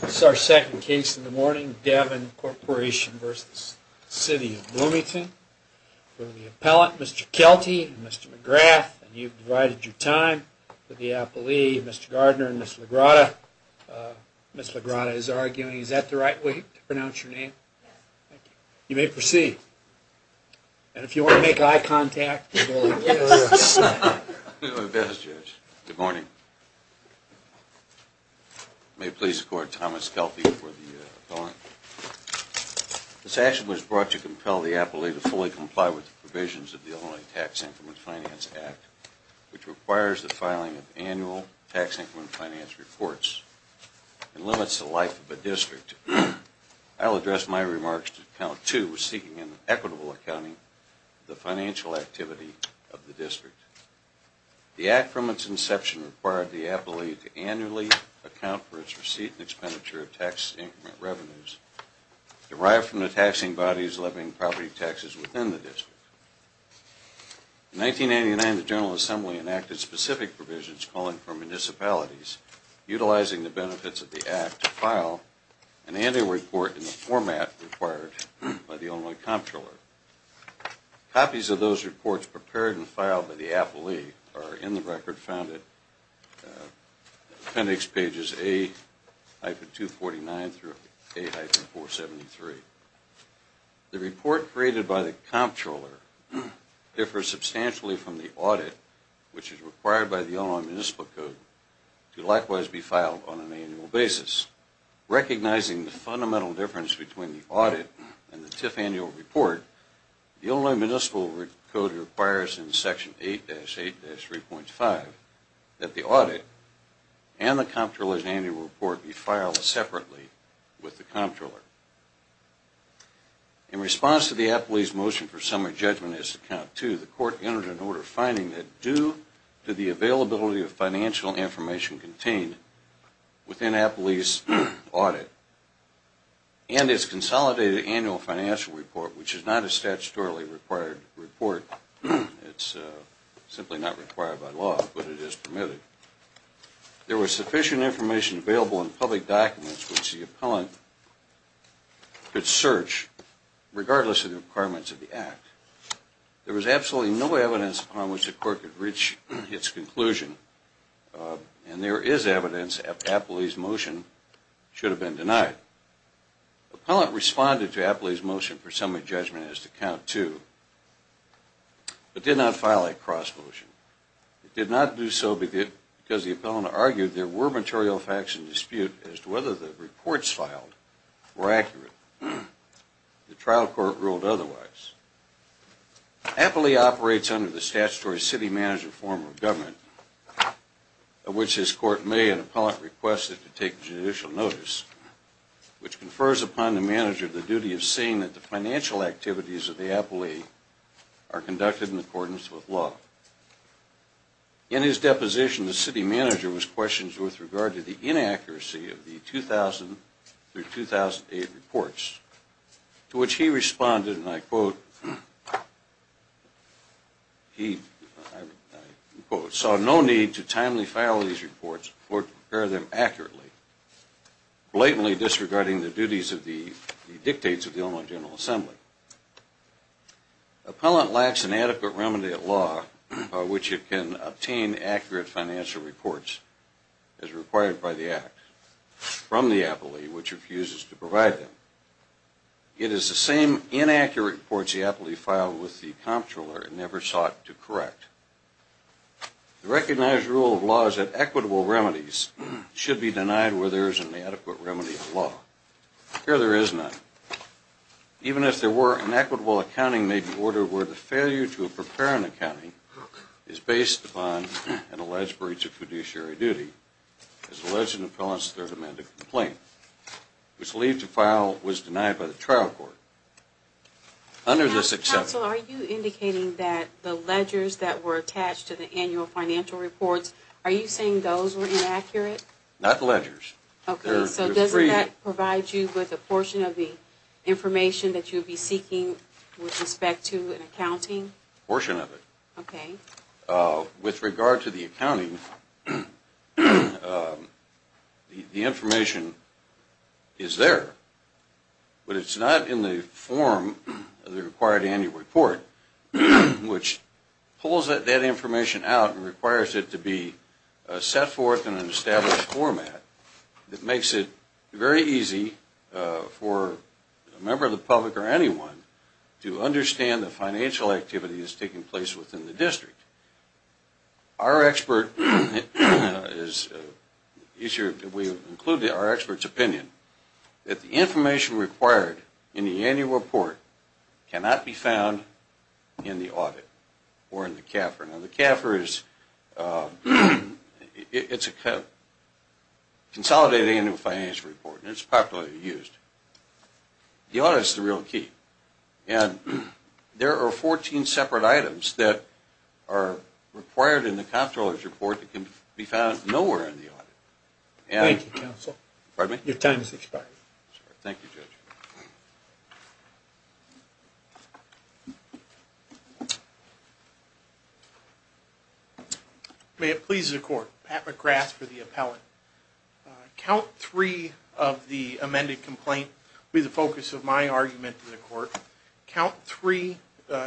This is our second case in the morning, Devyn Corporation v. City of Bloomington. We have the appellant, Mr. Kelty and Mr. McGrath, and you've divided your time with the appellee, Mr. Gardner and Ms. Lagrada. Ms. Lagrada is arguing, is that the right way to pronounce your name? Yes. Thank you. You may proceed. And if you want to make eye contact, you will. Good morning. May it please the Court, Thomas Kelty for the appellant. This action was brought to compel the appellee to fully comply with the provisions of the Illinois Tax Increment Finance Act, which requires the filing of annual tax increment finance reports and limits the life of a district. I will address my remarks to account two, seeking an equitable accounting of the financial activity of the district. The Act from its inception required the appellee to annually account for its receipt and expenditure of tax increment revenues derived from the taxing bodies levying property taxes within the district. In 1989, the General Assembly enacted specific provisions calling for municipalities utilizing the benefits of the Act to file an annual report in the format required by the Illinois Comptroller. Copies of those reports prepared and filed by the appellee are in the record found at appendix pages 8-249 through 8-473. The report created by the Comptroller differs substantially from the audit, which is required by the Illinois Municipal Code to likewise be filed on an annual basis. Recognizing the fundamental difference between the audit and the TIF annual report, the Illinois Municipal Code requires in Section 8-8-3.5 that the audit and the Comptroller's annual report be filed separately with the Comptroller. In response to the appellee's motion for summary judgment as to account two, the Court entered an order finding that due to the availability of financial information contained within appellee's audit and its consolidated annual financial report, which is not a statutorily required report, it's simply not required by law, but it is permitted, there was sufficient information available in public documents which the appellant could search regardless of the requirements of the Act. There was absolutely no evidence upon which the Court could reach its conclusion, and there is evidence that the appellee's motion should have been denied. The appellant responded to the appellee's motion for summary judgment as to account two, but did not file a cross-motion. It did not do so because the appellant argued there were material facts in dispute as to whether the reports filed were accurate. The trial court ruled otherwise. Appellee operates under the statutory city manager form of government, of which this Court may and appellant request that you take judicial notice, which confers upon the manager the duty of seeing that the financial activities of the appellee are conducted in accordance with law. In his deposition, the city manager was questioned with regard to the inaccuracy of the 2000 through 2008 reports, to which he responded, and I quote, He, I quote, saw no need to timely file these reports or to prepare them accurately, blatantly disregarding the duties of the dictates of the Ombudsman General Assembly. Appellant lacks an adequate remedy at law by which it can obtain accurate financial reports as required by the Act, from the appellee which refuses to provide them. It is the same inaccurate reports the appellee filed with the comptroller and never sought to correct. The recognized rule of law is that equitable remedies should be denied where there is an adequate remedy at law. Here there is none. Even if there were, an equitable accounting may be ordered where the failure to prepare an accounting is based upon an alleged breach of fiduciary duty as alleged in the appellant's Third Amendment complaint, whose leave to file was denied by the trial court. Under this exception... Counsel, are you indicating that the ledgers that were attached to the annual financial reports, are you saying those were inaccurate? Not ledgers. Okay, so doesn't that provide you with a portion of the information that you would be seeking with respect to an accounting? A portion of it. Okay. With regard to the accounting, the information is there, but it's not in the form of the required annual report, which pulls that information out and requires it to be set forth in an established format that makes it very easy for a member of the public or anyone to understand the financial activity that's taking place within the district. Our expert is... We include our expert's opinion that the information required in the annual report cannot be found in the audit or in the CAFR. Now the CAFR is... It's a consolidated annual financial report, and it's popularly used. The audit is the real key. And there are 14 separate items that are required in the comptroller's report that can be found nowhere in the audit. Thank you, Counsel. Pardon me? Your time has expired. Thank you, Judge. May it please the Court, Pat McGrath for the appellant. Count three of the amended complaint will be the focus of my argument to the Court. Count three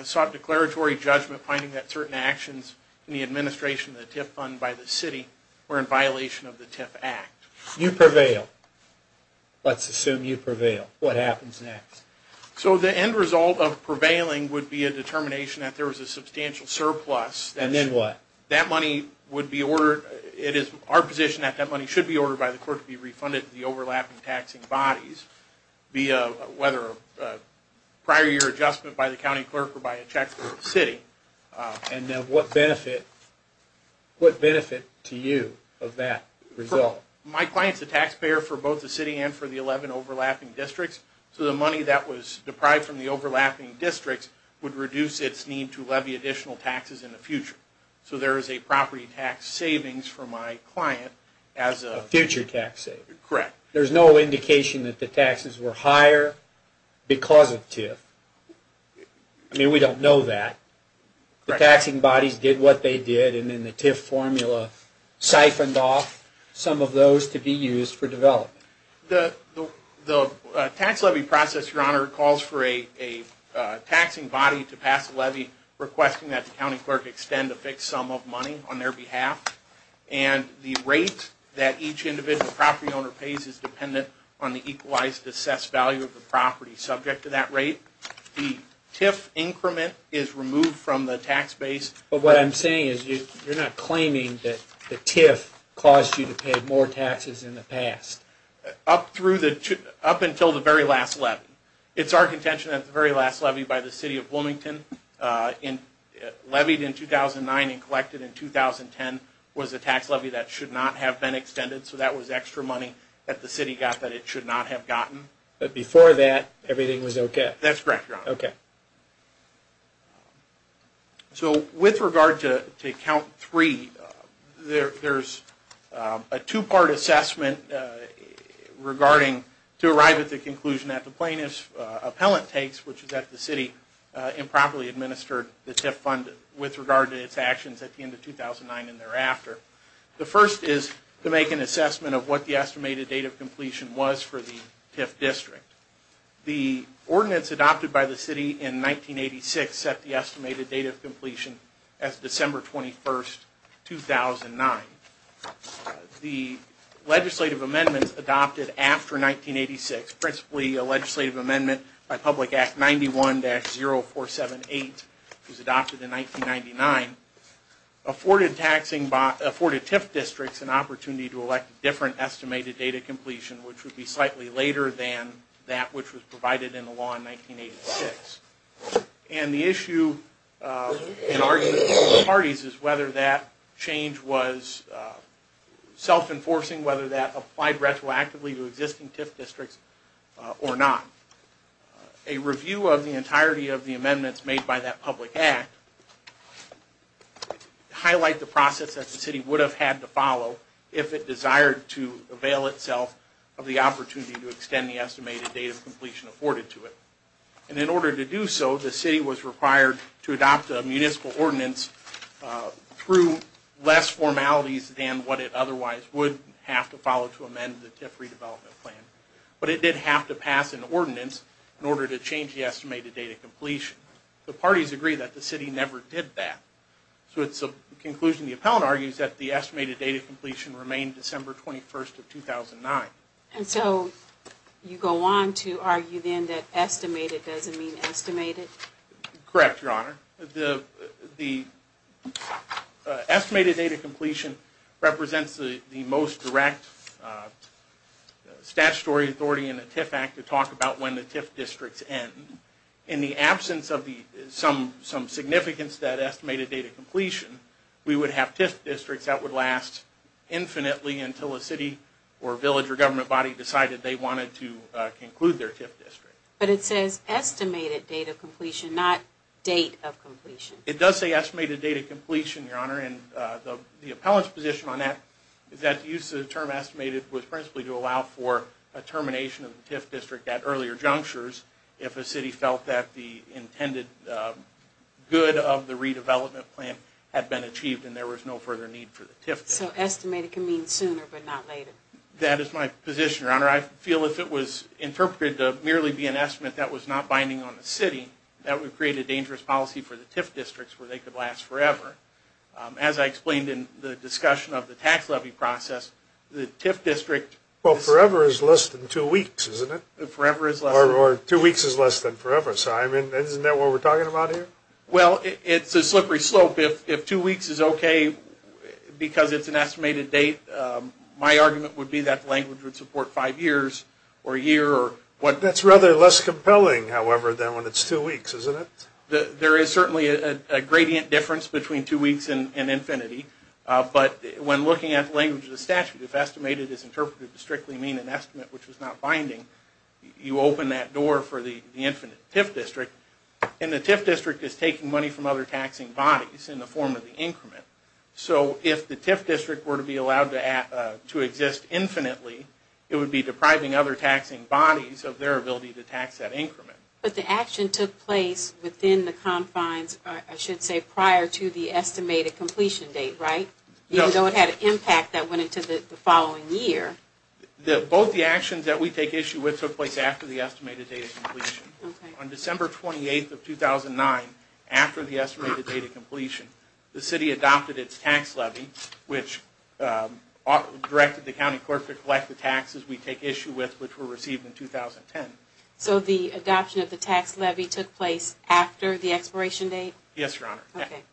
sought declaratory judgment finding that certain actions in the administration of the TIF Fund by the city were in violation of the TIF Act. You prevail. Let's assume you prevail. What happens next? So the end result of prevailing would be a determination that there was a substantial surplus. And then what? That money would be ordered. It is our position that that money should be ordered by the Court to be refunded to the overlapping taxing bodies, whether a prior year adjustment by the county clerk or by a check for the city. And then what benefit to you of that result? My client's a taxpayer for both the city and for the 11 overlapping districts, so the money that was deprived from the overlapping districts would reduce its need to levy additional taxes in the future. So there is a property tax savings for my client as a future tax saver. Correct. There's no indication that the taxes were higher because of TIF. I mean, we don't know that. The taxing bodies did what they did, and then the TIF formula siphoned off some of those to be used for development. The tax levy process, Your Honor, calls for a taxing body to pass a levy requesting that the county clerk extend a fixed sum of money on their behalf. And the rate that each individual property owner pays is dependent on the equalized assessed value of the property subject to that rate. The TIF increment is removed from the tax base. But what I'm saying is you're not claiming that the TIF caused you to pay more taxes in the past. Up until the very last levy. It's our contention that the very last levy by the City of Bloomington, levied in 2009 and collected in 2010, was a tax levy that should not have been extended. So that was extra money that the city got that it should not have gotten. But before that, everything was okay? That's correct, Your Honor. Okay. So with regard to Count 3, there's a two-part assessment to arrive at the conclusion that the plaintiff's appellant takes, which is that the city improperly administered the TIF fund with regard to its actions at the end of 2009 and thereafter. The first is to make an assessment of what the estimated date of completion was for the TIF district. The ordinance adopted by the city in 1986 set the estimated date of completion as December 21, 2009. The legislative amendment adopted after 1986, principally a legislative amendment by Public Act 91-0478, was adopted in 1999, afforded TIF districts an opportunity to elect different estimated date of completion, which would be slightly later than that which was provided in the law in 1986. And the issue and argument of both parties is whether that change was self-enforcing, whether that applied retroactively to existing TIF districts or not. A review of the entirety of the amendments made by that Public Act highlight the process that the city would have had to follow if it desired to avail itself of the opportunity to extend the estimated date of completion afforded to it. And in order to do so, the city was required to adopt a municipal ordinance through less formalities than what it otherwise would have to follow to amend the TIF redevelopment plan. But it did have to pass an ordinance in order to change the estimated date of completion. The parties agree that the city never did that. So it's a conclusion the appellant argues that the estimated date of completion remained December 21, 2009. And so you go on to argue then that estimated doesn't mean estimated? Correct, Your Honor. The estimated date of completion represents the most direct statutory authority in the TIF Act to talk about when the TIF districts end. In the absence of some significance to that estimated date of completion, we would have TIF districts that would last infinitely until a city or village or government body decided they wanted to conclude their TIF district. But it says estimated date of completion, not date of completion. It does say estimated date of completion, Your Honor, and the appellant's position on that is that the use of the term estimated was principally to allow for a termination of the TIF district at earlier junctures if a city felt that the intended good of the redevelopment plan had been achieved and there was no further need for the TIF district. So estimated can mean sooner but not later. That is my position, Your Honor. I feel if it was interpreted to merely be an estimate that was not binding on the city, that would create a dangerous policy for the TIF districts where they could last forever. As I explained in the discussion of the tax levy process, the TIF district... Well, forever is less than two weeks, isn't it? Forever is less than... Or two weeks is less than forever. Isn't that what we're talking about here? Well, it's a slippery slope. If two weeks is okay because it's an estimated date, my argument would be that the language would support five years or a year or... That's rather less compelling, however, than when it's two weeks, isn't it? There is certainly a gradient difference between two weeks and infinity. But when looking at the language of the statute, if estimated is interpreted to strictly mean an estimate which is not binding, you open that door for the infinite TIF district, and the TIF district is taking money from other taxing bodies in the form of the increment. So if the TIF district were to be allowed to exist infinitely, it would be depriving other taxing bodies of their ability to tax that increment. But the action took place within the confines, I should say, prior to the estimated completion date, right? Even though it had an impact that went into the following year. Both the actions that we take issue with took place after the estimated date of completion. On December 28th of 2009, after the estimated date of completion, the city adopted its tax levy, which directed the county clerk to collect the taxes we take issue with, which were received in 2010. So the adoption of the tax levy took place after the expiration date? Yes, Your Honor.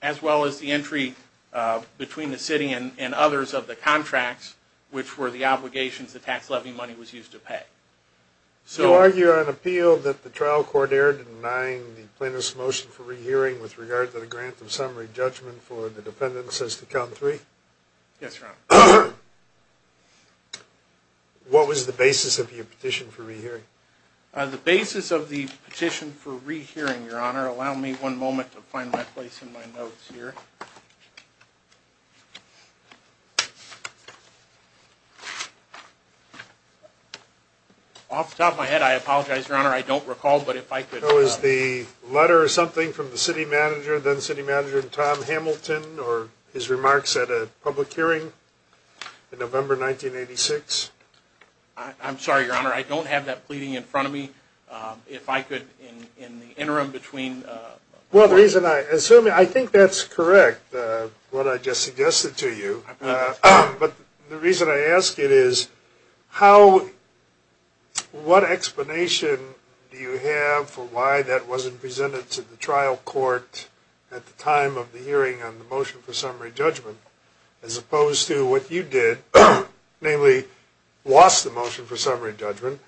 As well as the entry between the city and others of the contracts, which were the obligations the tax levy money was used to pay. So you argue on appeal that the trial court erred in denying the plaintiff's motion for rehearing with regard to the grant of summary judgment for the defendants as to count three? Yes, Your Honor. What was the basis of your petition for rehearing? The basis of the petition for rehearing, Your Honor, allow me one moment to find my place in my notes here. Off the top of my head, I apologize, Your Honor, I don't recall, but if I could. Was the letter or something from the city manager, then city manager Tom Hamilton or his remarks at a public hearing in November 1986? I'm sorry, Your Honor, I don't have that pleading in front of me. If I could, in the interim between. Well, the reason I assume, I think that's correct, what I just suggested to you. But the reason I ask it is how, what explanation do you have for why that wasn't presented to the trial court at the time of the hearing on the motion for summary judgment, as opposed to what you did, namely lost the motion for summary judgment,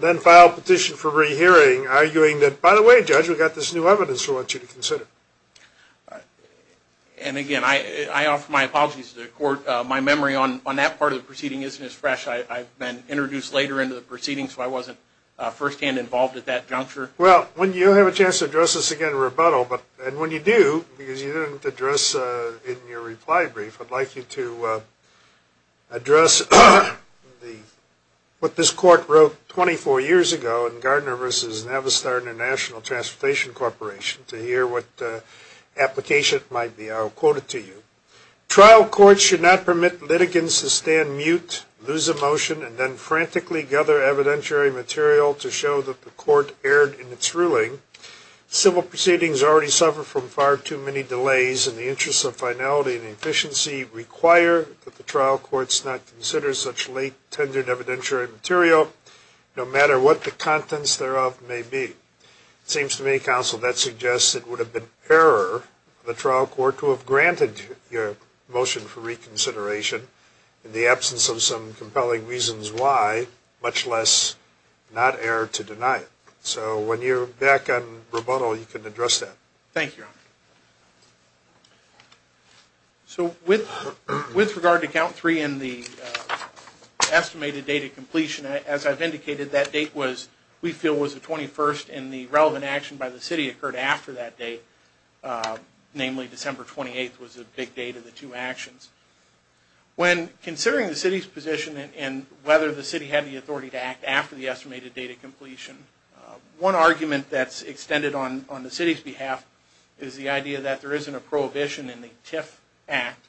then filed a petition for rehearing, arguing that, by the way, Judge, we've got this new evidence we want you to consider. And again, I offer my apologies to the court. My memory on that part of the proceeding isn't as fresh. I've been introduced later into the proceedings, so I wasn't firsthand involved at that juncture. Well, when you have a chance to address this again in rebuttal, and when you do, because you didn't address in your reply brief, I'd like you to address what this court wrote 24 years ago in Gardner v. Navistar International Transportation Corporation to hear what application it might be. I'll quote it to you. Trial courts should not permit litigants to stand mute, lose a motion, and then frantically gather evidentiary material to show that the court erred in its ruling. Civil proceedings already suffer from far too many delays. And the interests of finality and efficiency require that the trial courts not consider such late, tendered evidentiary material, no matter what the contents thereof may be. It seems to me, Counsel, that suggests it would have been error of the trial court to have granted your motion for reconsideration in the absence of some compelling reasons why, much less not err to deny it. So when you're back on rebuttal, you can address that. Thank you, Your Honor. So with regard to Count 3 and the estimated date of completion, as I've indicated, that date we feel was the 21st and the relevant action by the city occurred after that date. Namely, December 28th was the big date of the two actions. When considering the city's position and whether the city had the authority to act after the estimated date of completion, one argument that's extended on the city's behalf is the idea that there isn't a prohibition in the TIF Act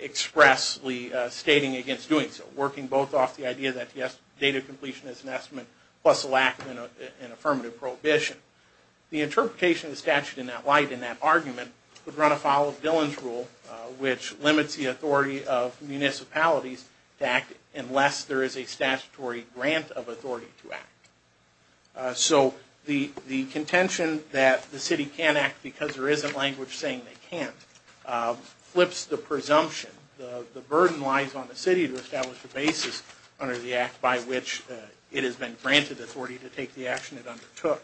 expressly stating against doing so, working both off the idea that the estimated date of completion is an estimate plus a lack of an affirmative prohibition. The interpretation of the statute in that light, in that argument, would run afoul of Dillon's Rule, which limits the authority of municipalities to act unless there is a statutory grant of authority to act. So the contention that the city can't act because there isn't language saying they can't flips the presumption. The burden lies on the city to establish a basis under the act by which it has been granted authority to take the action it undertook.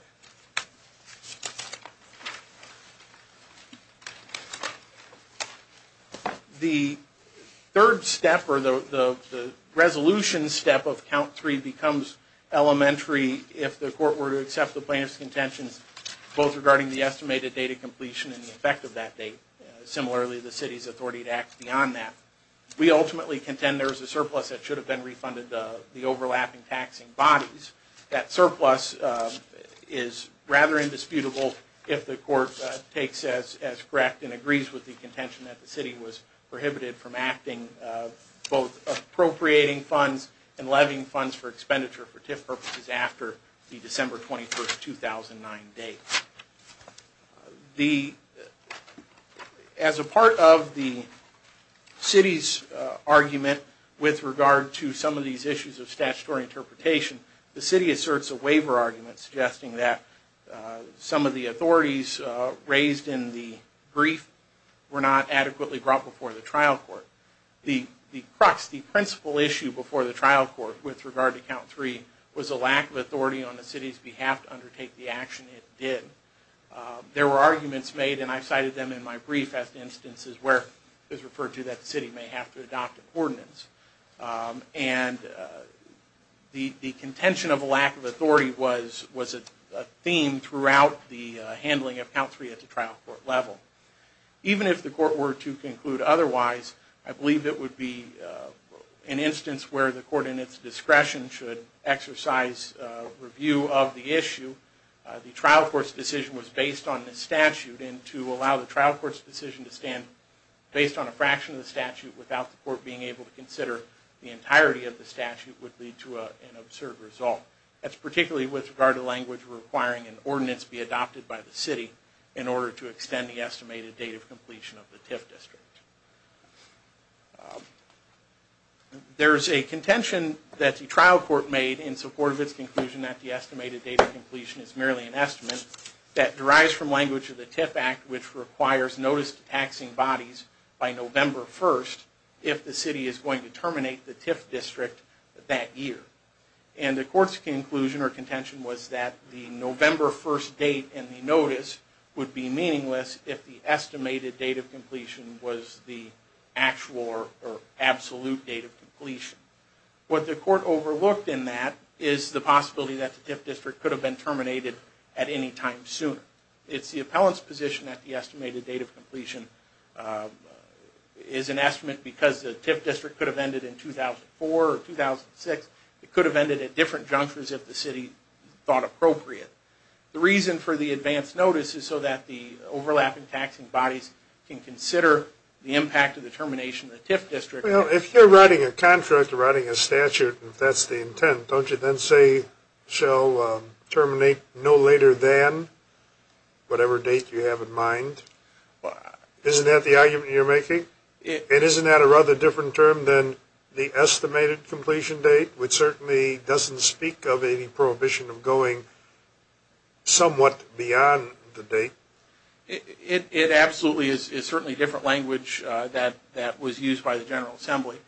The third step, or the resolution step, of Count 3 becomes elementary if the court were to accept the plaintiff's contentions both regarding the estimated date of completion and the effect of that date. Similarly, the city's authority to act beyond that. We ultimately contend there is a surplus that should have been refunded that is rather indisputable if the court takes as correct and agrees with the contention that the city was prohibited from acting both appropriating funds and levying funds for expenditure for TIF purposes after the December 21, 2009 date. As a part of the city's argument with regard to some of these issues of statutory interpretation, the city asserts a waiver argument suggesting that some of the authorities raised in the brief were not adequately brought before the trial court. The crux, the principal issue before the trial court with regard to Count 3 was a lack of authority on the city's behalf to undertake the action it did. There were arguments made, and I've cited them in my brief as instances where it was referred to that the city may have to adopt a coordinance. And the contention of a lack of authority was a theme throughout the handling of Count 3 at the trial court level. Even if the court were to conclude otherwise, I believe it would be an instance where the court in its discretion should exercise review of the issue. The trial court's decision was based on the statute, and to allow the trial court's decision to stand based on a fraction of the statute without the court being able to consider the entirety of the statute would lead to an absurd result. That's particularly with regard to language requiring an ordinance be adopted by the city in order to extend the estimated date of completion of the TIF district. There is a contention that the trial court made in support of its conclusion that the estimated date of completion is merely an estimate that derives from language of the TIF Act which requires notice to taxing bodies by November 1st if the city is going to terminate the TIF district that year. And the court's conclusion or contention was that the November 1st date in the notice would be meaningless if the estimated date of completion was the actual or absolute date of completion. What the court overlooked in that is the possibility that the TIF district could have been terminated at any time sooner. It's the appellant's position that the estimated date of completion is an estimate because the TIF district could have ended in 2004 or 2006. It could have ended at different junctures if the city thought appropriate. The reason for the advance notice is so that the overlapping taxing bodies can consider the impact of the termination of the TIF district. Well, if you're writing a contract or writing a statute and that's the intent, don't you then say shall terminate no later than whatever date you have in mind? Isn't that the argument you're making? And isn't that a rather different term than the estimated completion date which certainly doesn't speak of any prohibition of going somewhat beyond the date? It absolutely is. It's certainly a different language that was used by the General Assembly.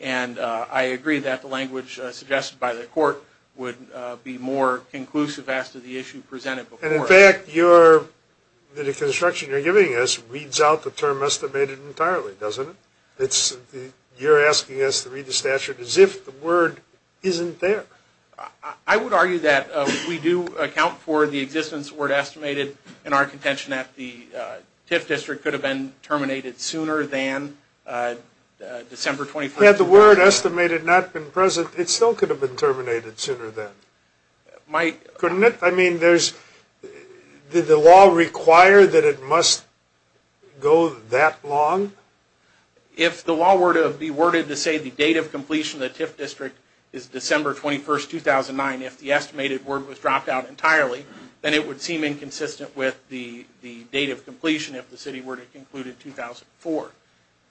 And I agree that the language suggested by the court would be more conclusive as to the issue presented before it. And, in fact, the deconstruction you're giving us reads out the term estimated entirely, doesn't it? You're asking us to read the statute as if the word isn't there. I would argue that we do account for the existence of the word estimated in our contention that the TIF district could have been terminated sooner than December 21, 2009. Had the word estimated not been present, it still could have been terminated sooner then, couldn't it? I mean, did the law require that it must go that long? If the law were to be worded to say the date of completion of the TIF district is December 21, 2009, if the estimated word was dropped out entirely, then it would seem inconsistent with the date of completion if the city were to conclude in 2004.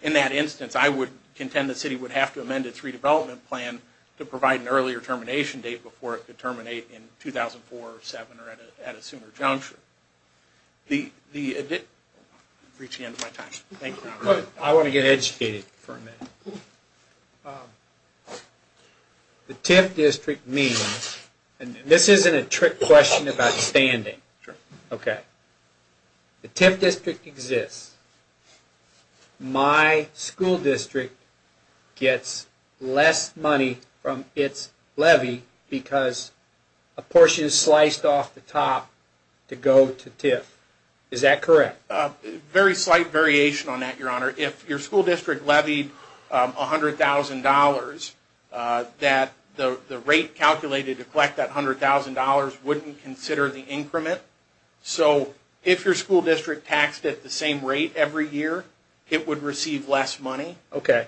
In that instance, I would contend the city would have to amend its redevelopment plan to provide an earlier termination date before it could terminate in 2004 or 2007 or at a sooner juncture. I'm reaching the end of my time. Thank you. I want to get educated for a minute. The TIF district means, and this isn't a trick question about standing. The TIF district exists. My school district gets less money from its levy because a portion is sliced off the top to go to TIF. Is that correct? Very slight variation on that, Your Honor. If your school district levied $100,000, the rate calculated to collect that $100,000 wouldn't consider the increment. So if your school district taxed at the same rate every year, it would receive less money. The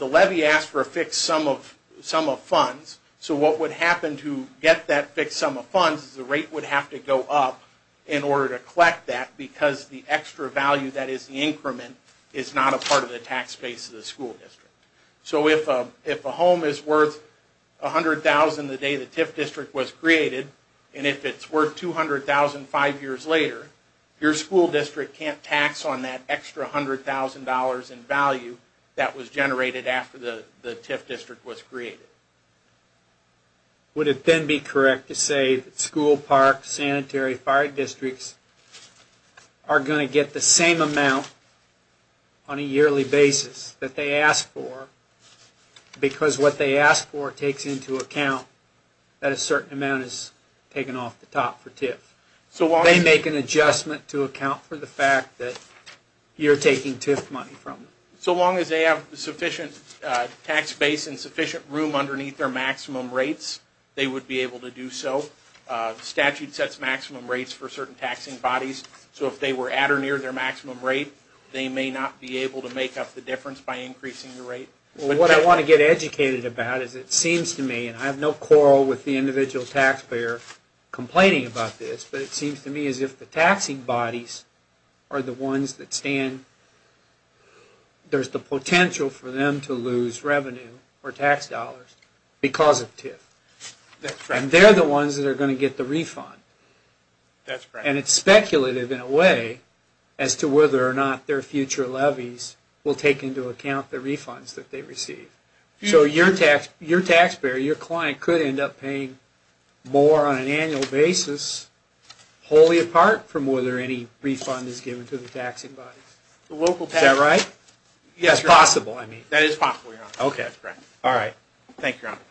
levy asks for a fixed sum of funds. So what would happen to get that fixed sum of funds is the rate would have to go up in order to collect that because the extra value that is the increment is not a part of the tax base of the school district. So if a home is worth $100,000 the day the TIF district was created, and if it's worth $200,000 five years later, your school district can't tax on that extra $100,000 in value that was generated after the TIF district was created. Would it then be correct to say that school, parks, sanitary, fire districts are going to get the same amount on a yearly basis that they asked for because what they asked for takes into account that a certain amount is taken off the top for TIF. They make an adjustment to account for the fact that you're taking TIF money from them. So long as they have sufficient tax base and sufficient room underneath their maximum rates, they would be able to do so. The statute sets maximum rates for certain taxing bodies. So if they were at or near their maximum rate, they may not be able to make up the difference by increasing the rate. What I want to get educated about is it seems to me, and I have no quarrel with the individual taxpayer complaining about this, but it seems to me as if the taxing bodies are the ones that stand, there's the potential for them to lose revenue or tax dollars because of TIF. And they're the ones that are going to get the refund. And it's speculative in a way as to whether or not their future levies will take into account the refunds that they receive. So your taxpayer, your client, could end up paying more on an annual basis wholly apart from whether any refund is given to the taxing bodies. Is that right? Yes, Your Honor. It's possible, I mean. That is possible, Your Honor. Okay. All right. Thank you, Your Honor. Thank you.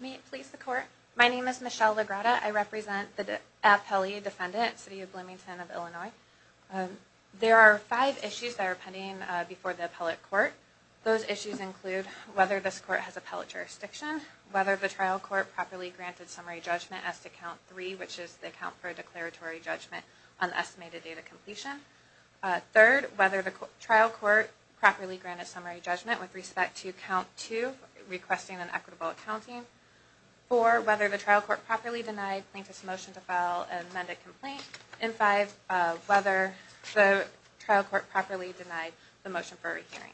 May it please the Court. My name is Michelle Legretta. I represent the appellee defendant, City of Bloomington of Illinois. There are five issues that are pending before the appellate court. Those issues include whether this court has appellate jurisdiction, whether the trial court properly granted summary judgment as to Count 3, which is the account for a declaratory judgment on estimated date of completion. Third, whether the trial court properly granted summary judgment with respect to Count 2, requesting an equitable accounting. Four, whether the trial court properly denied plaintiff's motion to file an amended complaint. And five, whether the trial court properly denied the motion for a hearing.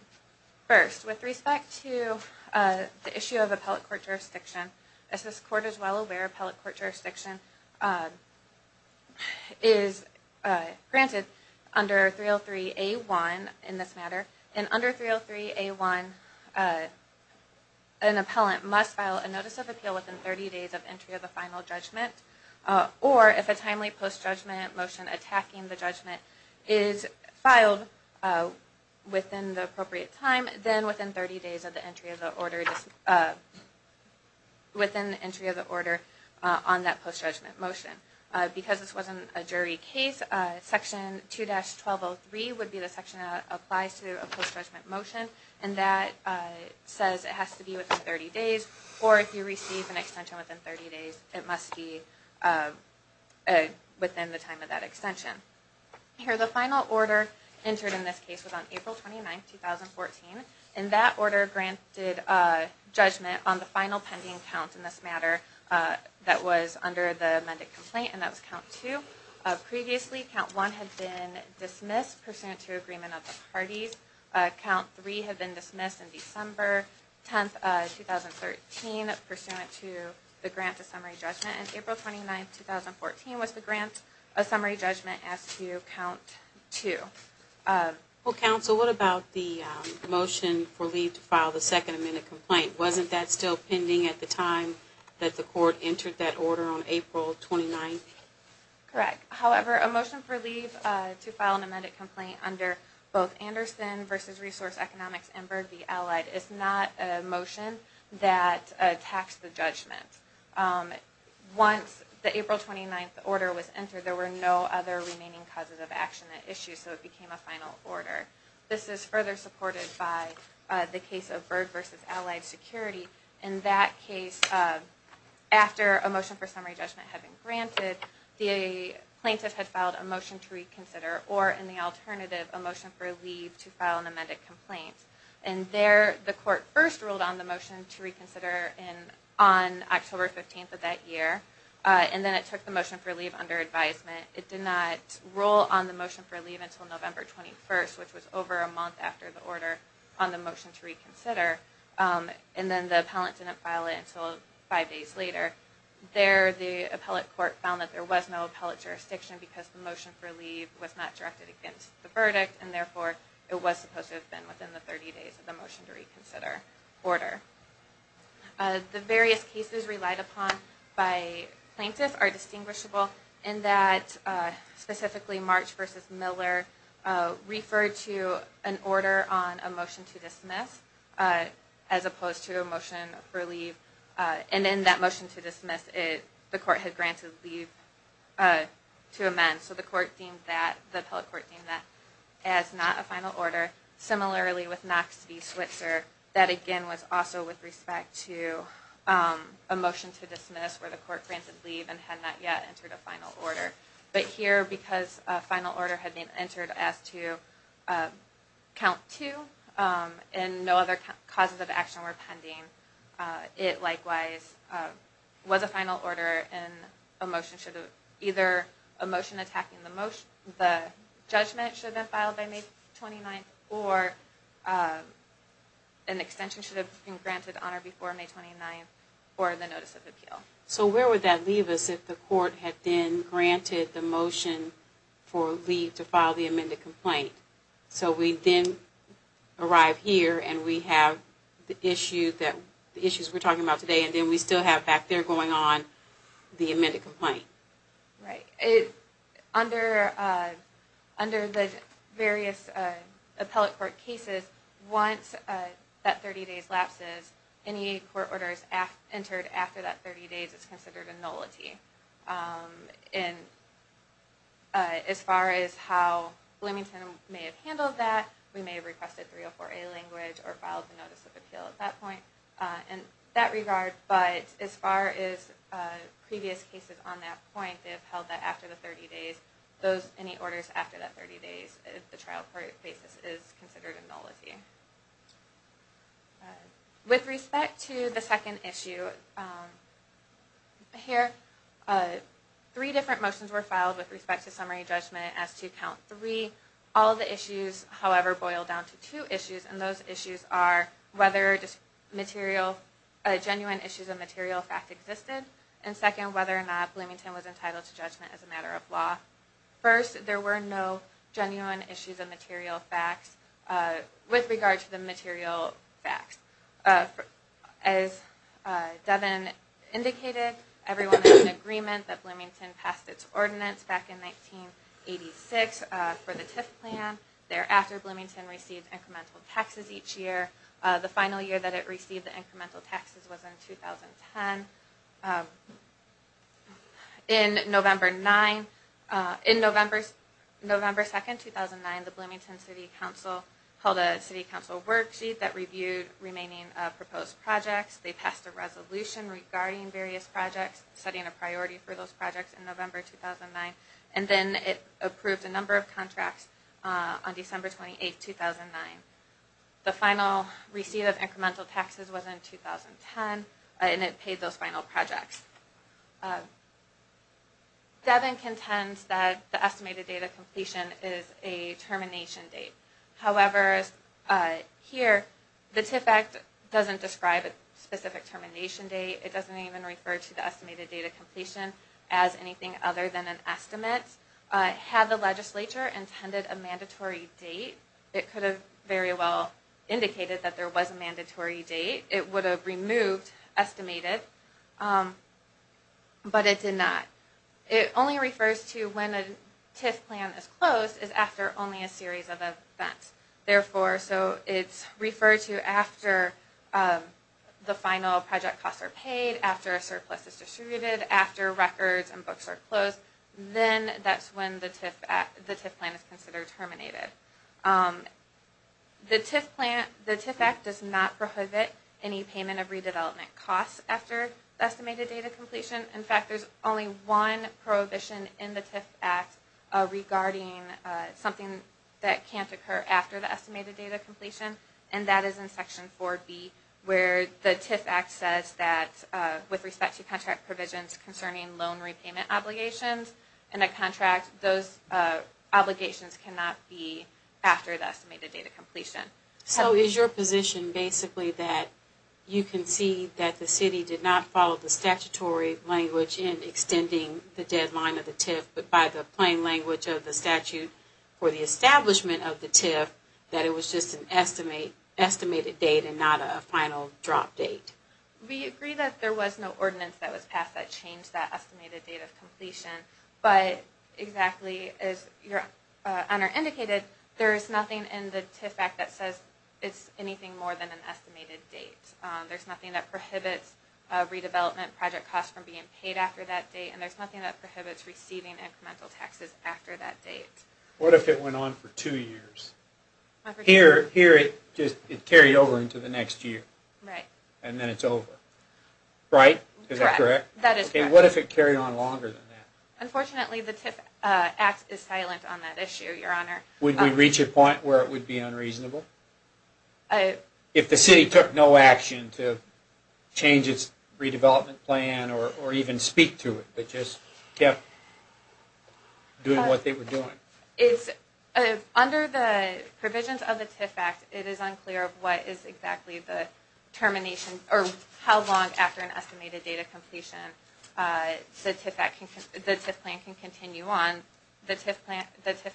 First, with respect to the issue of appellate court jurisdiction, as this court is well aware, appellate court jurisdiction is granted under 303A1 in this matter, and under 303A1 an appellant must file a notice of appeal within 30 days of entry of the final judgment, or if a timely post-judgment motion attacking the judgment is filed within the appropriate time, then within 30 days of the entry of the order on that post-judgment motion. Because this wasn't a jury case, Section 2-1203 would be the section that applies to a post-judgment motion, and that says it has to be within 30 days, or if you receive an extension within 30 days, it must be within the time of that extension. Here, the final order entered in this case was on April 29, 2014, and that order granted judgment on the final pending count in this matter that was under the amended complaint, and that was Count 2. Previously, Count 1 had been dismissed pursuant to agreement of the parties. Count 3 had been dismissed in December 10, 2013, pursuant to the grant of summary judgment. And April 29, 2014 was the grant of summary judgment as to Count 2. Well, Counsel, what about the motion for leave to file the second amended complaint? Wasn't that still pending at the time that the court entered that order on April 29? Correct. However, a motion for leave to file an amended complaint under both Anderson v. Resource Economics and Byrd v. Allied is not a motion that attacks the judgment. Once the April 29 order was entered, there were no other remaining causes of action at issue, so it became a final order. This is further supported by the case of Byrd v. Allied Security. In that case, after a motion for summary judgment had been granted, the plaintiff had filed a motion to reconsider, or in the alternative, a motion for leave to file an amended complaint. And there, the court first ruled on the motion to reconsider on October 15 of that year, and then it took the motion for leave under advisement. It did not rule on the motion for leave until November 21, and then the appellant didn't file it until five days later. There, the appellate court found that there was no appellate jurisdiction because the motion for leave was not directed against the verdict, and therefore it was supposed to have been within the 30 days of the motion to reconsider order. The various cases relied upon by plaintiffs are distinguishable in that, specifically March v. Miller referred to an order on a motion to dismiss. As opposed to a motion for leave. And in that motion to dismiss, the court had granted leave to amend. So the court deemed that, the appellate court deemed that as not a final order. Similarly with Knox v. Switzer, that again was also with respect to a motion to dismiss where the court granted leave and had not yet entered a final order. But here, because a final order had been entered as to count two, and no other causes of action were pending, it likewise was a final order and a motion should have, either a motion attacking the judgment should have been filed by May 29th, or an extension should have been granted on or before May 29th for the notice of appeal. So where would that leave us if the court had then granted the motion for leave to file the amended complaint? So we then arrive here and we have the issues we're talking about today, and then we still have back there going on the amended complaint. Right. Under the various appellate court cases, once that 30 days lapses, any court orders entered after that 30 days is considered a nullity. As far as how Bloomington may have handled that, we may have requested 304A language or filed the notice of appeal at that point in that regard. But as far as previous cases on that point, they have held that after the 30 days, any orders after that 30 days, the trial court basis is considered a nullity. With respect to the second issue, here, three different motions were filed with respect to summary judgment as to count three. All the issues, however, boil down to two issues, and those issues are whether genuine issues of material fact existed, and second, whether or not Bloomington was entitled to judgment as a matter of law. First, there were no genuine issues of material facts with regard to the material facts. As Devin indicated, everyone had an agreement that Bloomington passed its ordinance back in 1986 for the TIF plan. Thereafter, Bloomington received incremental taxes each year. The final year that it received the incremental taxes was in 2010. In November 2, 2009, the Bloomington City Council held a City Council worksheet that reviewed remaining proposed projects. They passed a resolution regarding various projects, setting a priority for those projects in November 2009, and then it approved a number of contracts on December 28, 2009. The final receipt of incremental taxes was in 2010, and it paid those final projects. Devin contends that the estimated date of completion is a termination date. However, here, the TIF Act doesn't describe a specific termination date. It doesn't even refer to the estimated date of completion as anything other than an estimate. Had the legislature intended a mandatory date, it could have very well indicated that there was a mandatory date. It would have removed estimated, but it did not. It only refers to when a TIF plan is closed is after only a series of events. Therefore, it's referred to after the final project costs are paid, after a surplus is distributed, after records and books are closed, then that's when the TIF plan is considered terminated. The TIF Act does not prohibit any payment of redevelopment costs after the estimated date of completion. In fact, there's only one prohibition in the TIF Act regarding something that can't occur after the estimated date of completion, and that is in Section 4B, where the TIF Act says that with respect to contract provisions concerning loan repayment obligations in a contract, those obligations cannot be after the estimated date of completion. So is your position basically that you concede that the city did not follow the statutory language in extending the deadline of the TIF, but by the plain language of the statute for the establishment of the TIF, that it was just an estimated date and not a final drop date? We agree that there was no ordinance that was passed that changed that estimated date of completion, but exactly as your honor indicated, there is nothing in the TIF Act that says it's anything more than an estimated date. There's nothing that prohibits redevelopment project costs from being paid after that date, and there's nothing that prohibits receiving incremental taxes after that date. What if it went on for two years? Here, it carried over into the next year, and then it's over. Right? Is that correct? That is correct. What if it carried on longer than that? Unfortunately, the TIF Act is silent on that issue, your honor. Would we reach a point where it would be unreasonable? If the city took no action to change its redevelopment plan or even speak to it, but just kept doing what they were doing? Under the provisions of the TIF Act, it is unclear what is exactly the termination or how long after an estimated date of completion the TIF plan can continue on. The TIF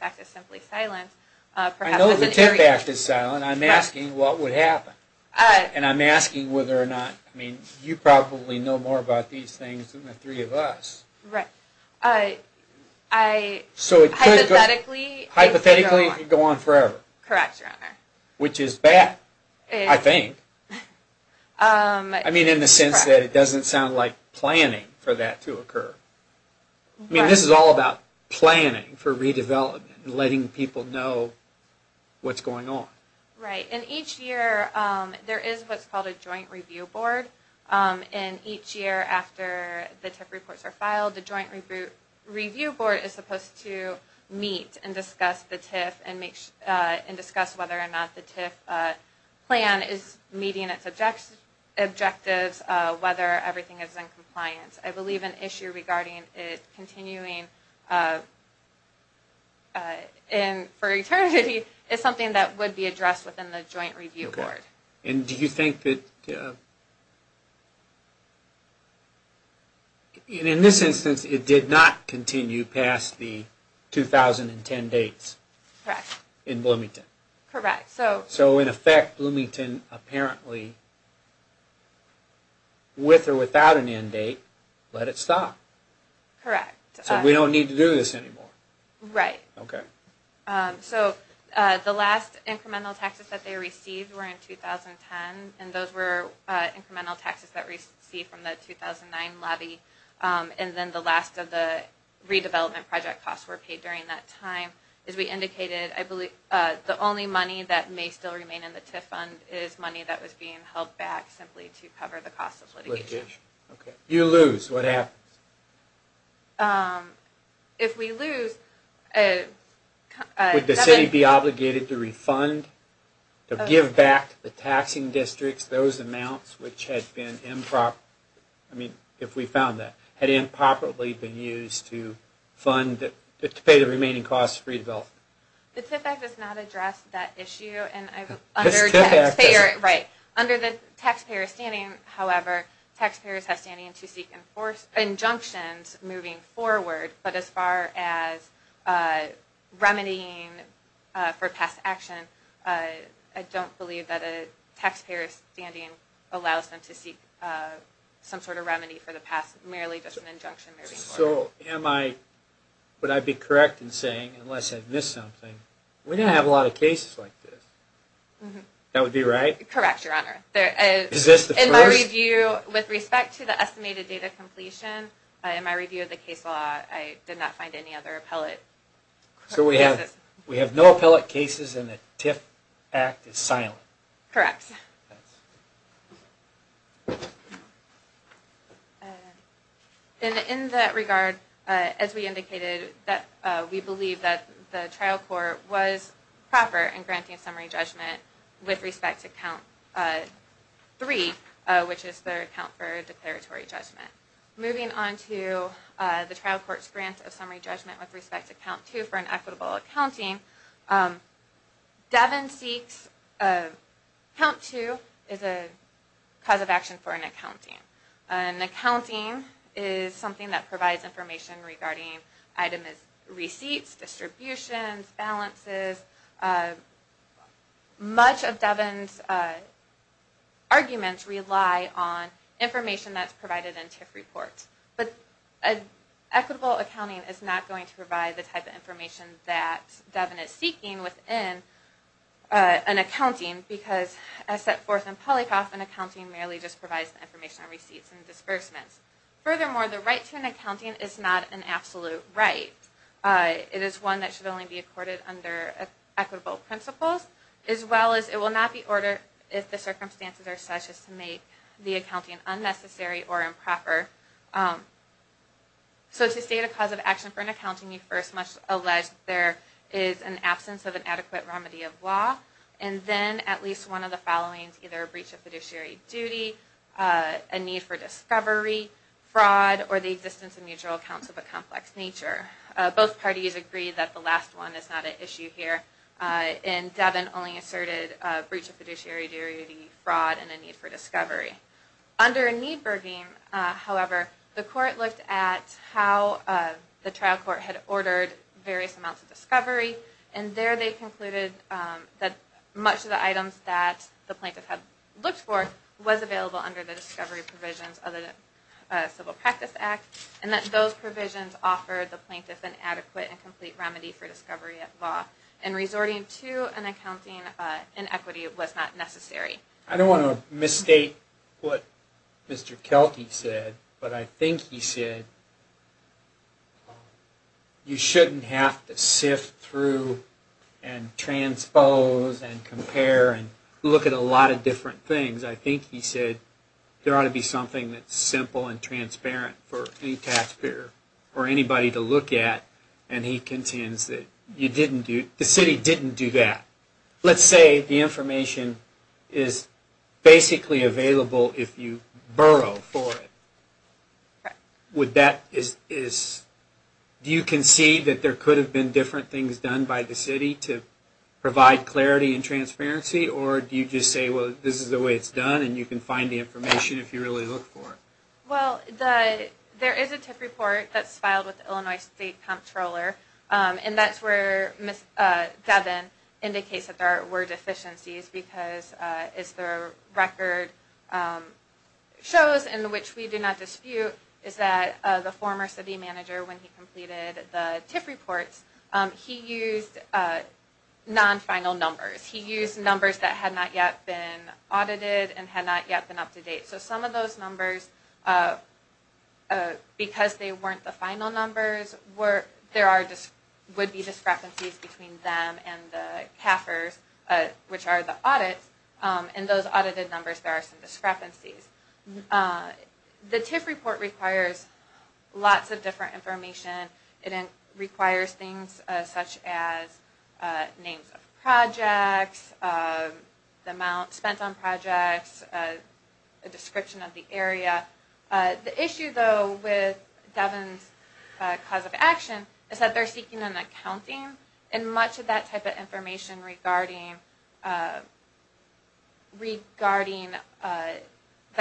Act is simply silent. I know the TIF Act is silent. I'm asking what would happen, and I'm asking whether or not you probably know more about these things than the three of us. Right. So, hypothetically, it could go on forever. Correct, your honor. Which is bad, I think. I mean, in the sense that it doesn't sound like planning for that to occur. I mean, this is all about planning for redevelopment and letting people know what's going on. Right. And each year, there is what's called a joint review board, and each year after the TIF reports are filed, the joint review board is supposed to meet and discuss the TIF and discuss whether or not the TIF plan is meeting its objectives, whether everything is in compliance. I believe an issue regarding it continuing for eternity is something that would be addressed within the joint review board. And do you think that, in this instance, it did not continue past the 2010 dates? Correct. In Bloomington? Correct. So, in effect, Bloomington apparently, with or without an end date, let it stop. Correct. So, we don't need to do this anymore. Right. Okay. So, the last incremental taxes that they received were in 2010, and those were incremental taxes that we received from the 2009 lobby. And then the last of the redevelopment project costs were paid during that time. As we indicated, I believe the only money that may still remain in the TIF fund is money that was being held back simply to cover the cost of litigation. Okay. If you lose, what happens? If we lose... Would the city be obligated to refund, to give back to the taxing districts those amounts which had been improper? I mean, if we found that. Had it improperly been used to pay the remaining costs for redevelopment? The TIF Act does not address that issue. The TIF Act doesn't. Right. Under the taxpayer standing, however, taxpayers have standing to seek injunctions moving forward. But as far as remedying for past action, I don't believe that a taxpayer's standing allows them to seek some sort of remedy for the past, merely just an injunction moving forward. So, would I be correct in saying, unless I've missed something, we don't have a lot of cases like this. That would be right? Correct, Your Honor. Is this the first? In my review, with respect to the estimated data completion, in my review of the case law, I did not find any other appellate cases. So, we have no appellate cases and the TIF Act is silent? Correct. In that regard, as we indicated, we believe that the trial court was proper in granting summary judgment with respect to Count 3, which is their account for declaratory judgment. Moving on to the trial court's grant of summary judgment with respect to Count 2 for an equitable accounting, Devin seeks, Count 2 is a cause of action for an accounting. An accounting is something that provides information regarding items as receipts, distributions, balances. Much of Devin's arguments rely on information that's provided in TIF reports. But equitable accounting is not going to provide the type of information that Devin is seeking within an accounting, because as set forth in Polikoff, an accounting merely just provides information on receipts and disbursements. Furthermore, the right to an accounting is not an absolute right. It is one that should only be accorded under equitable principles, as well as it will not be ordered if the circumstances are such as to make the accounting unnecessary or improper. So, to state a cause of action for an accounting, you first must allege that there is an absence of an adequate remedy of law, and then at least one of the followings, either a breach of fiduciary duty, a need for discovery, fraud, or the existence of mutual accounts of a complex nature. Both parties agree that the last one is not an issue here, and Devin only asserted a breach of fiduciary duty, fraud, and a need for discovery. Under Niedberging, however, the court looked at how the trial court had ordered various amounts of discovery, and there they concluded that much of the items that the plaintiff had looked for was available under the discovery provisions of the Civil Practice Act, and that those provisions offered the plaintiff an adequate and complete remedy for discovery of law. And resorting to an accounting inequity was not necessary. I don't want to misstate what Mr. Kelty said, but I think he said you shouldn't have to sift through and transpose and compare and look at a lot of different things. I think he said there ought to be something that's simple and transparent for any taxpayer or anybody to look at, and he contends that the city didn't do that. Let's say the information is basically available if you borrow for it. Do you concede that there could have been different things done by the city to provide clarity and transparency, or do you just say, well, this is the way it's done, and you can find the information if you really look for it? Well, there is a TIF report that's filed with the Illinois State Comptroller, and that's where Ms. Devon indicates that there were deficiencies, because as the record shows and which we do not dispute, is that the former city manager, when he completed the TIF reports, he used non-final numbers. He used numbers that had not yet been audited and had not yet been up to date. So some of those numbers, because they weren't the final numbers, there would be discrepancies between them and the CAFRs, which are the audits, and those audited numbers, there are some discrepancies. The TIF report requires lots of different information. It requires things such as names of projects, the amount spent on projects, a description of the area. The issue, though, with Devon's cause of action is that they're seeking an accounting, and much of that type of information regarding that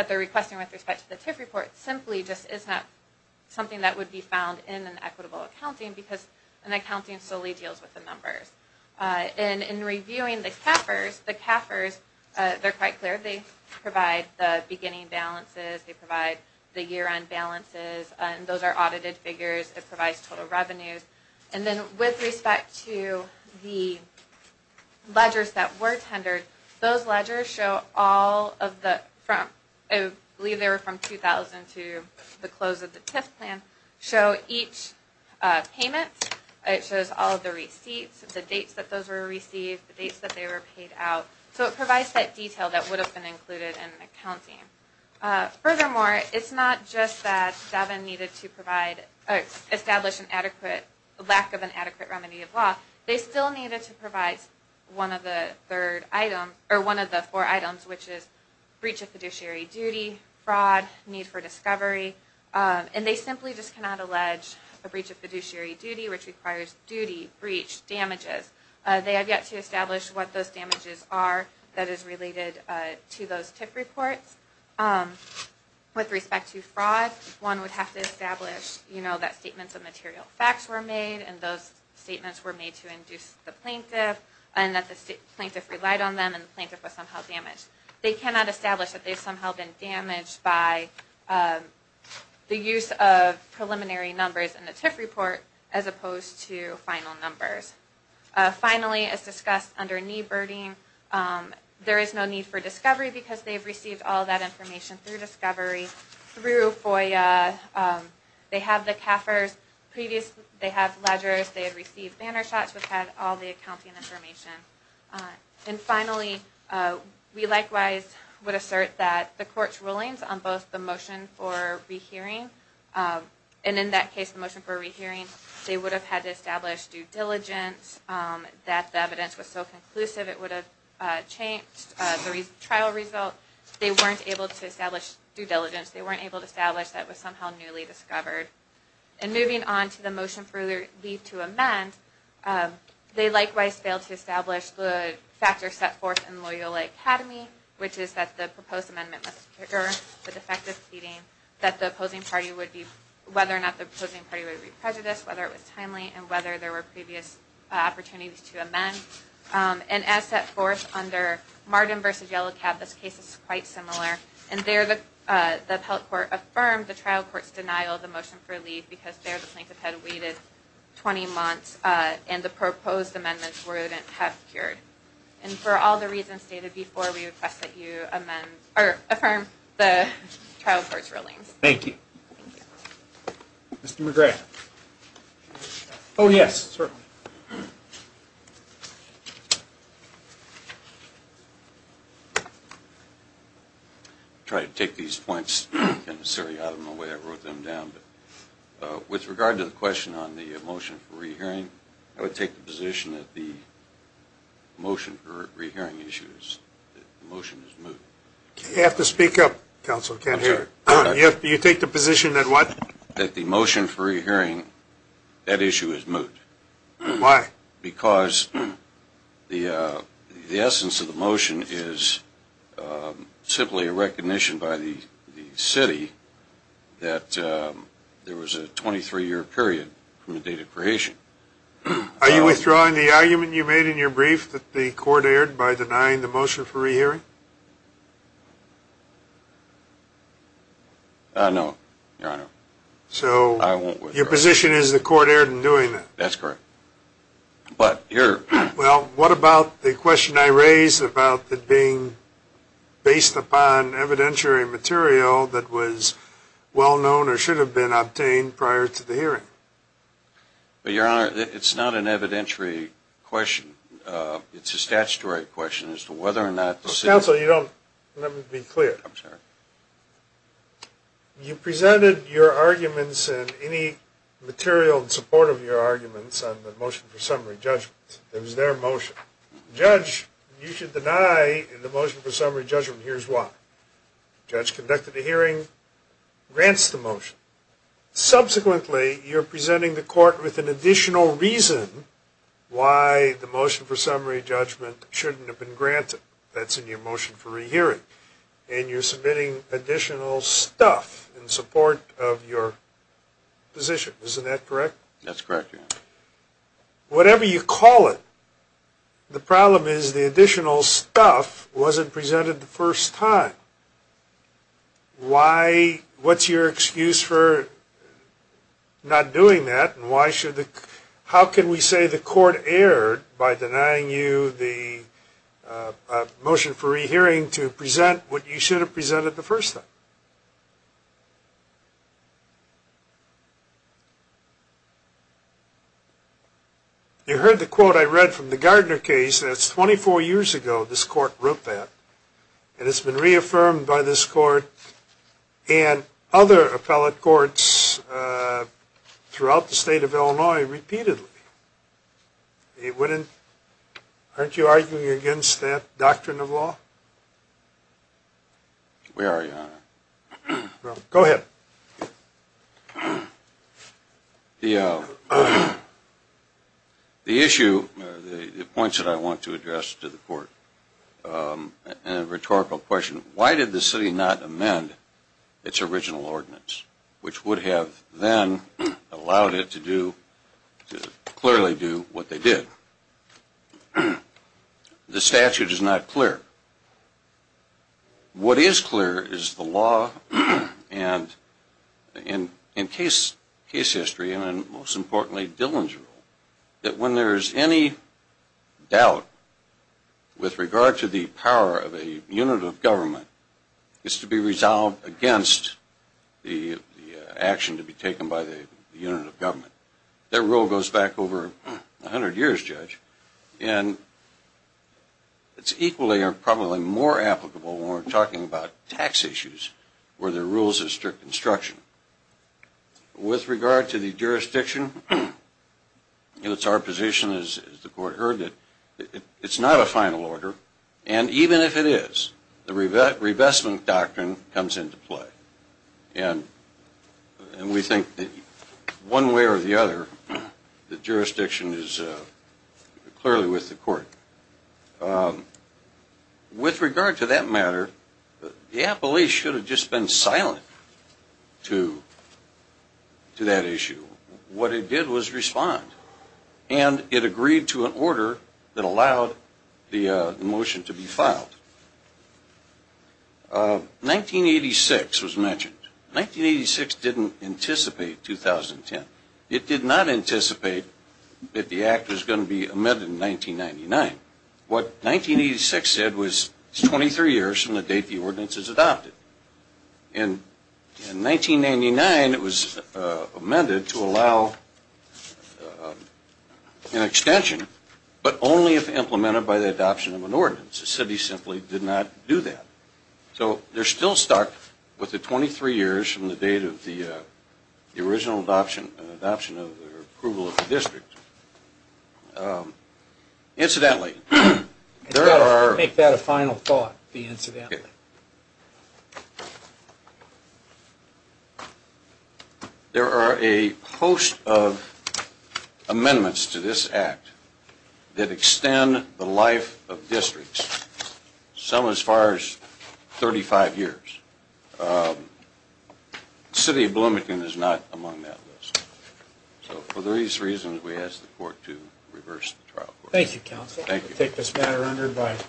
they're requesting with respect to the TIF report simply just isn't something that would be found in an equitable accounting, because an accounting solely deals with the numbers. In reviewing the CAFRs, they're quite clear they provide the beginning balances, they provide the year-end balances, and those are audited figures. It provides total revenues. And then with respect to the ledgers that were tendered, those ledgers show all of the, I believe they were from 2000 to the close of the TIF plan, show each payment, it shows all of the receipts, the dates that those were received, the dates that they were paid out. So it provides that detail that would have been included in an accounting. Furthermore, it's not just that Devon needed to establish a lack of an adequate remedy of law, they still needed to provide one of the four items, which is breach of fiduciary duty, fraud, need for discovery, and they simply just cannot allege a breach of fiduciary duty, which requires duty, breach, damages. They have yet to establish what those damages are that is related to those TIF reports. With respect to fraud, one would have to establish that statements of material facts were made and those statements were made to induce the plaintiff, and that the plaintiff relied on them and the plaintiff was somehow damaged. They cannot establish that they've somehow been damaged by the use of preliminary numbers in the TIF report as opposed to final numbers. Finally, as discussed under need birding, there is no need for discovery because they've received all that information through discovery, through FOIA. They have the CAFRs, they have ledgers, they have received banner shots, which have all the accounting information. And finally, we likewise would assert that the court's rulings on both the motion for rehearing, and in that case the motion for rehearing, they would have had to establish due diligence, that the evidence was so conclusive it would have changed the trial result. They weren't able to establish due diligence. They weren't able to establish that it was somehow newly discovered. And moving on to the motion for leave to amend, they likewise failed to establish the factors set forth in Loyola Academy, which is that the proposed amendment must concur with effective seating, that the opposing party would be, whether or not the opposing party would be prejudiced, whether it was timely, and whether there were previous opportunities to amend. And as set forth under Martin v. Yellow Cab, this case is quite similar, and there the appellate court affirmed the trial court's denial of the motion for leave because there the plaintiff had waited 20 months, and the proposed amendments wouldn't have cured. And for all the reasons stated before, we request that you affirm the trial court's rulings. Thank you. Mr. McGrath. Oh, yes, certainly. Thank you. I'll try to take these points, kind of, out of my way. I wrote them down. But with regard to the question on the motion for rehearing, I would take the position that the motion for rehearing issues, that the motion is moot. You have to speak up, counsel. I'm sorry. You take the position that what? That the motion for rehearing, that issue is moot. Why? Because the essence of the motion is simply a recognition by the city that there was a 23-year period from the date of creation. Are you withdrawing the argument you made in your brief that the court erred by denying the motion for rehearing? No, Your Honor. So your position is the court erred in doing that? That's correct. Well, what about the question I raised about it being based upon evidentiary material that was well known or should have been obtained prior to the hearing? Your Honor, it's not an evidentiary question. It's a statutory question as to whether or not the city... Counsel, you don't let me be clear. I'm sorry. You presented your arguments and any material in support of your arguments on the motion for summary judgment. It was their motion. Judge, you should deny the motion for summary judgment. Here's why. Judge conducted a hearing, grants the motion. Subsequently, you're presenting the court with an additional reason why the motion for summary judgment shouldn't have been granted. That's in your motion for rehearing. And you're submitting additional stuff in support of your position. Isn't that correct? That's correct, Your Honor. Whatever you call it, the problem is the additional stuff wasn't presented the first time. Why? What's your excuse for not doing that and why should the... How can we say the court erred by denying you the motion for rehearing to present what you should have presented the first time? You heard the quote I read from the Gardner case. That's 24 years ago this court wrote that. And it's been reaffirmed by this court and other appellate courts throughout the state of Illinois repeatedly. It wouldn't... Aren't you arguing against that doctrine of law? We are, Your Honor. Go ahead. The issue, the points that I want to address to the court, and a rhetorical question, why did the city not amend its original ordinance, which would have then allowed it to do, to clearly do what they did? The statute is not clear. What is clear is the law and in case history, and most importantly, Dillon's rule, that when there is any doubt with regard to the power of a unit of government is to be resolved against the action to be taken by the unit of government. That rule goes back over 100 years, Judge. And it's equally or probably more applicable when we're talking about tax issues where the rules of strict instruction. With regard to the jurisdiction, it's our position, as the court heard, that it's not a final order, and even if it is, the revestment doctrine comes into play. And we think that one way or the other, the jurisdiction is clearly with the court. With regard to that matter, the appellee should have just been silent to that issue. What it did was respond. And it agreed to an order that allowed the motion to be filed. 1986 was mentioned. 1986 didn't anticipate 2010. It did not anticipate that the act was going to be amended in 1999. What 1986 said was it's 23 years from the date the ordinance is adopted. And in 1999, it was amended to allow an extension, but only if implemented by the adoption of an ordinance. The city simply did not do that. So they're still stuck with the 23 years from the date of the original adoption or approval of the district. Incidentally, there are... Let's make that a final thought, the incidentally. There are a host of amendments to this act that extend the life of districts, some as far as 35 years. The city of Bloomington is not among that list. So for these reasons, we ask the court to reverse the trial. Thank you, counsel. Thank you. I take this matter under advice.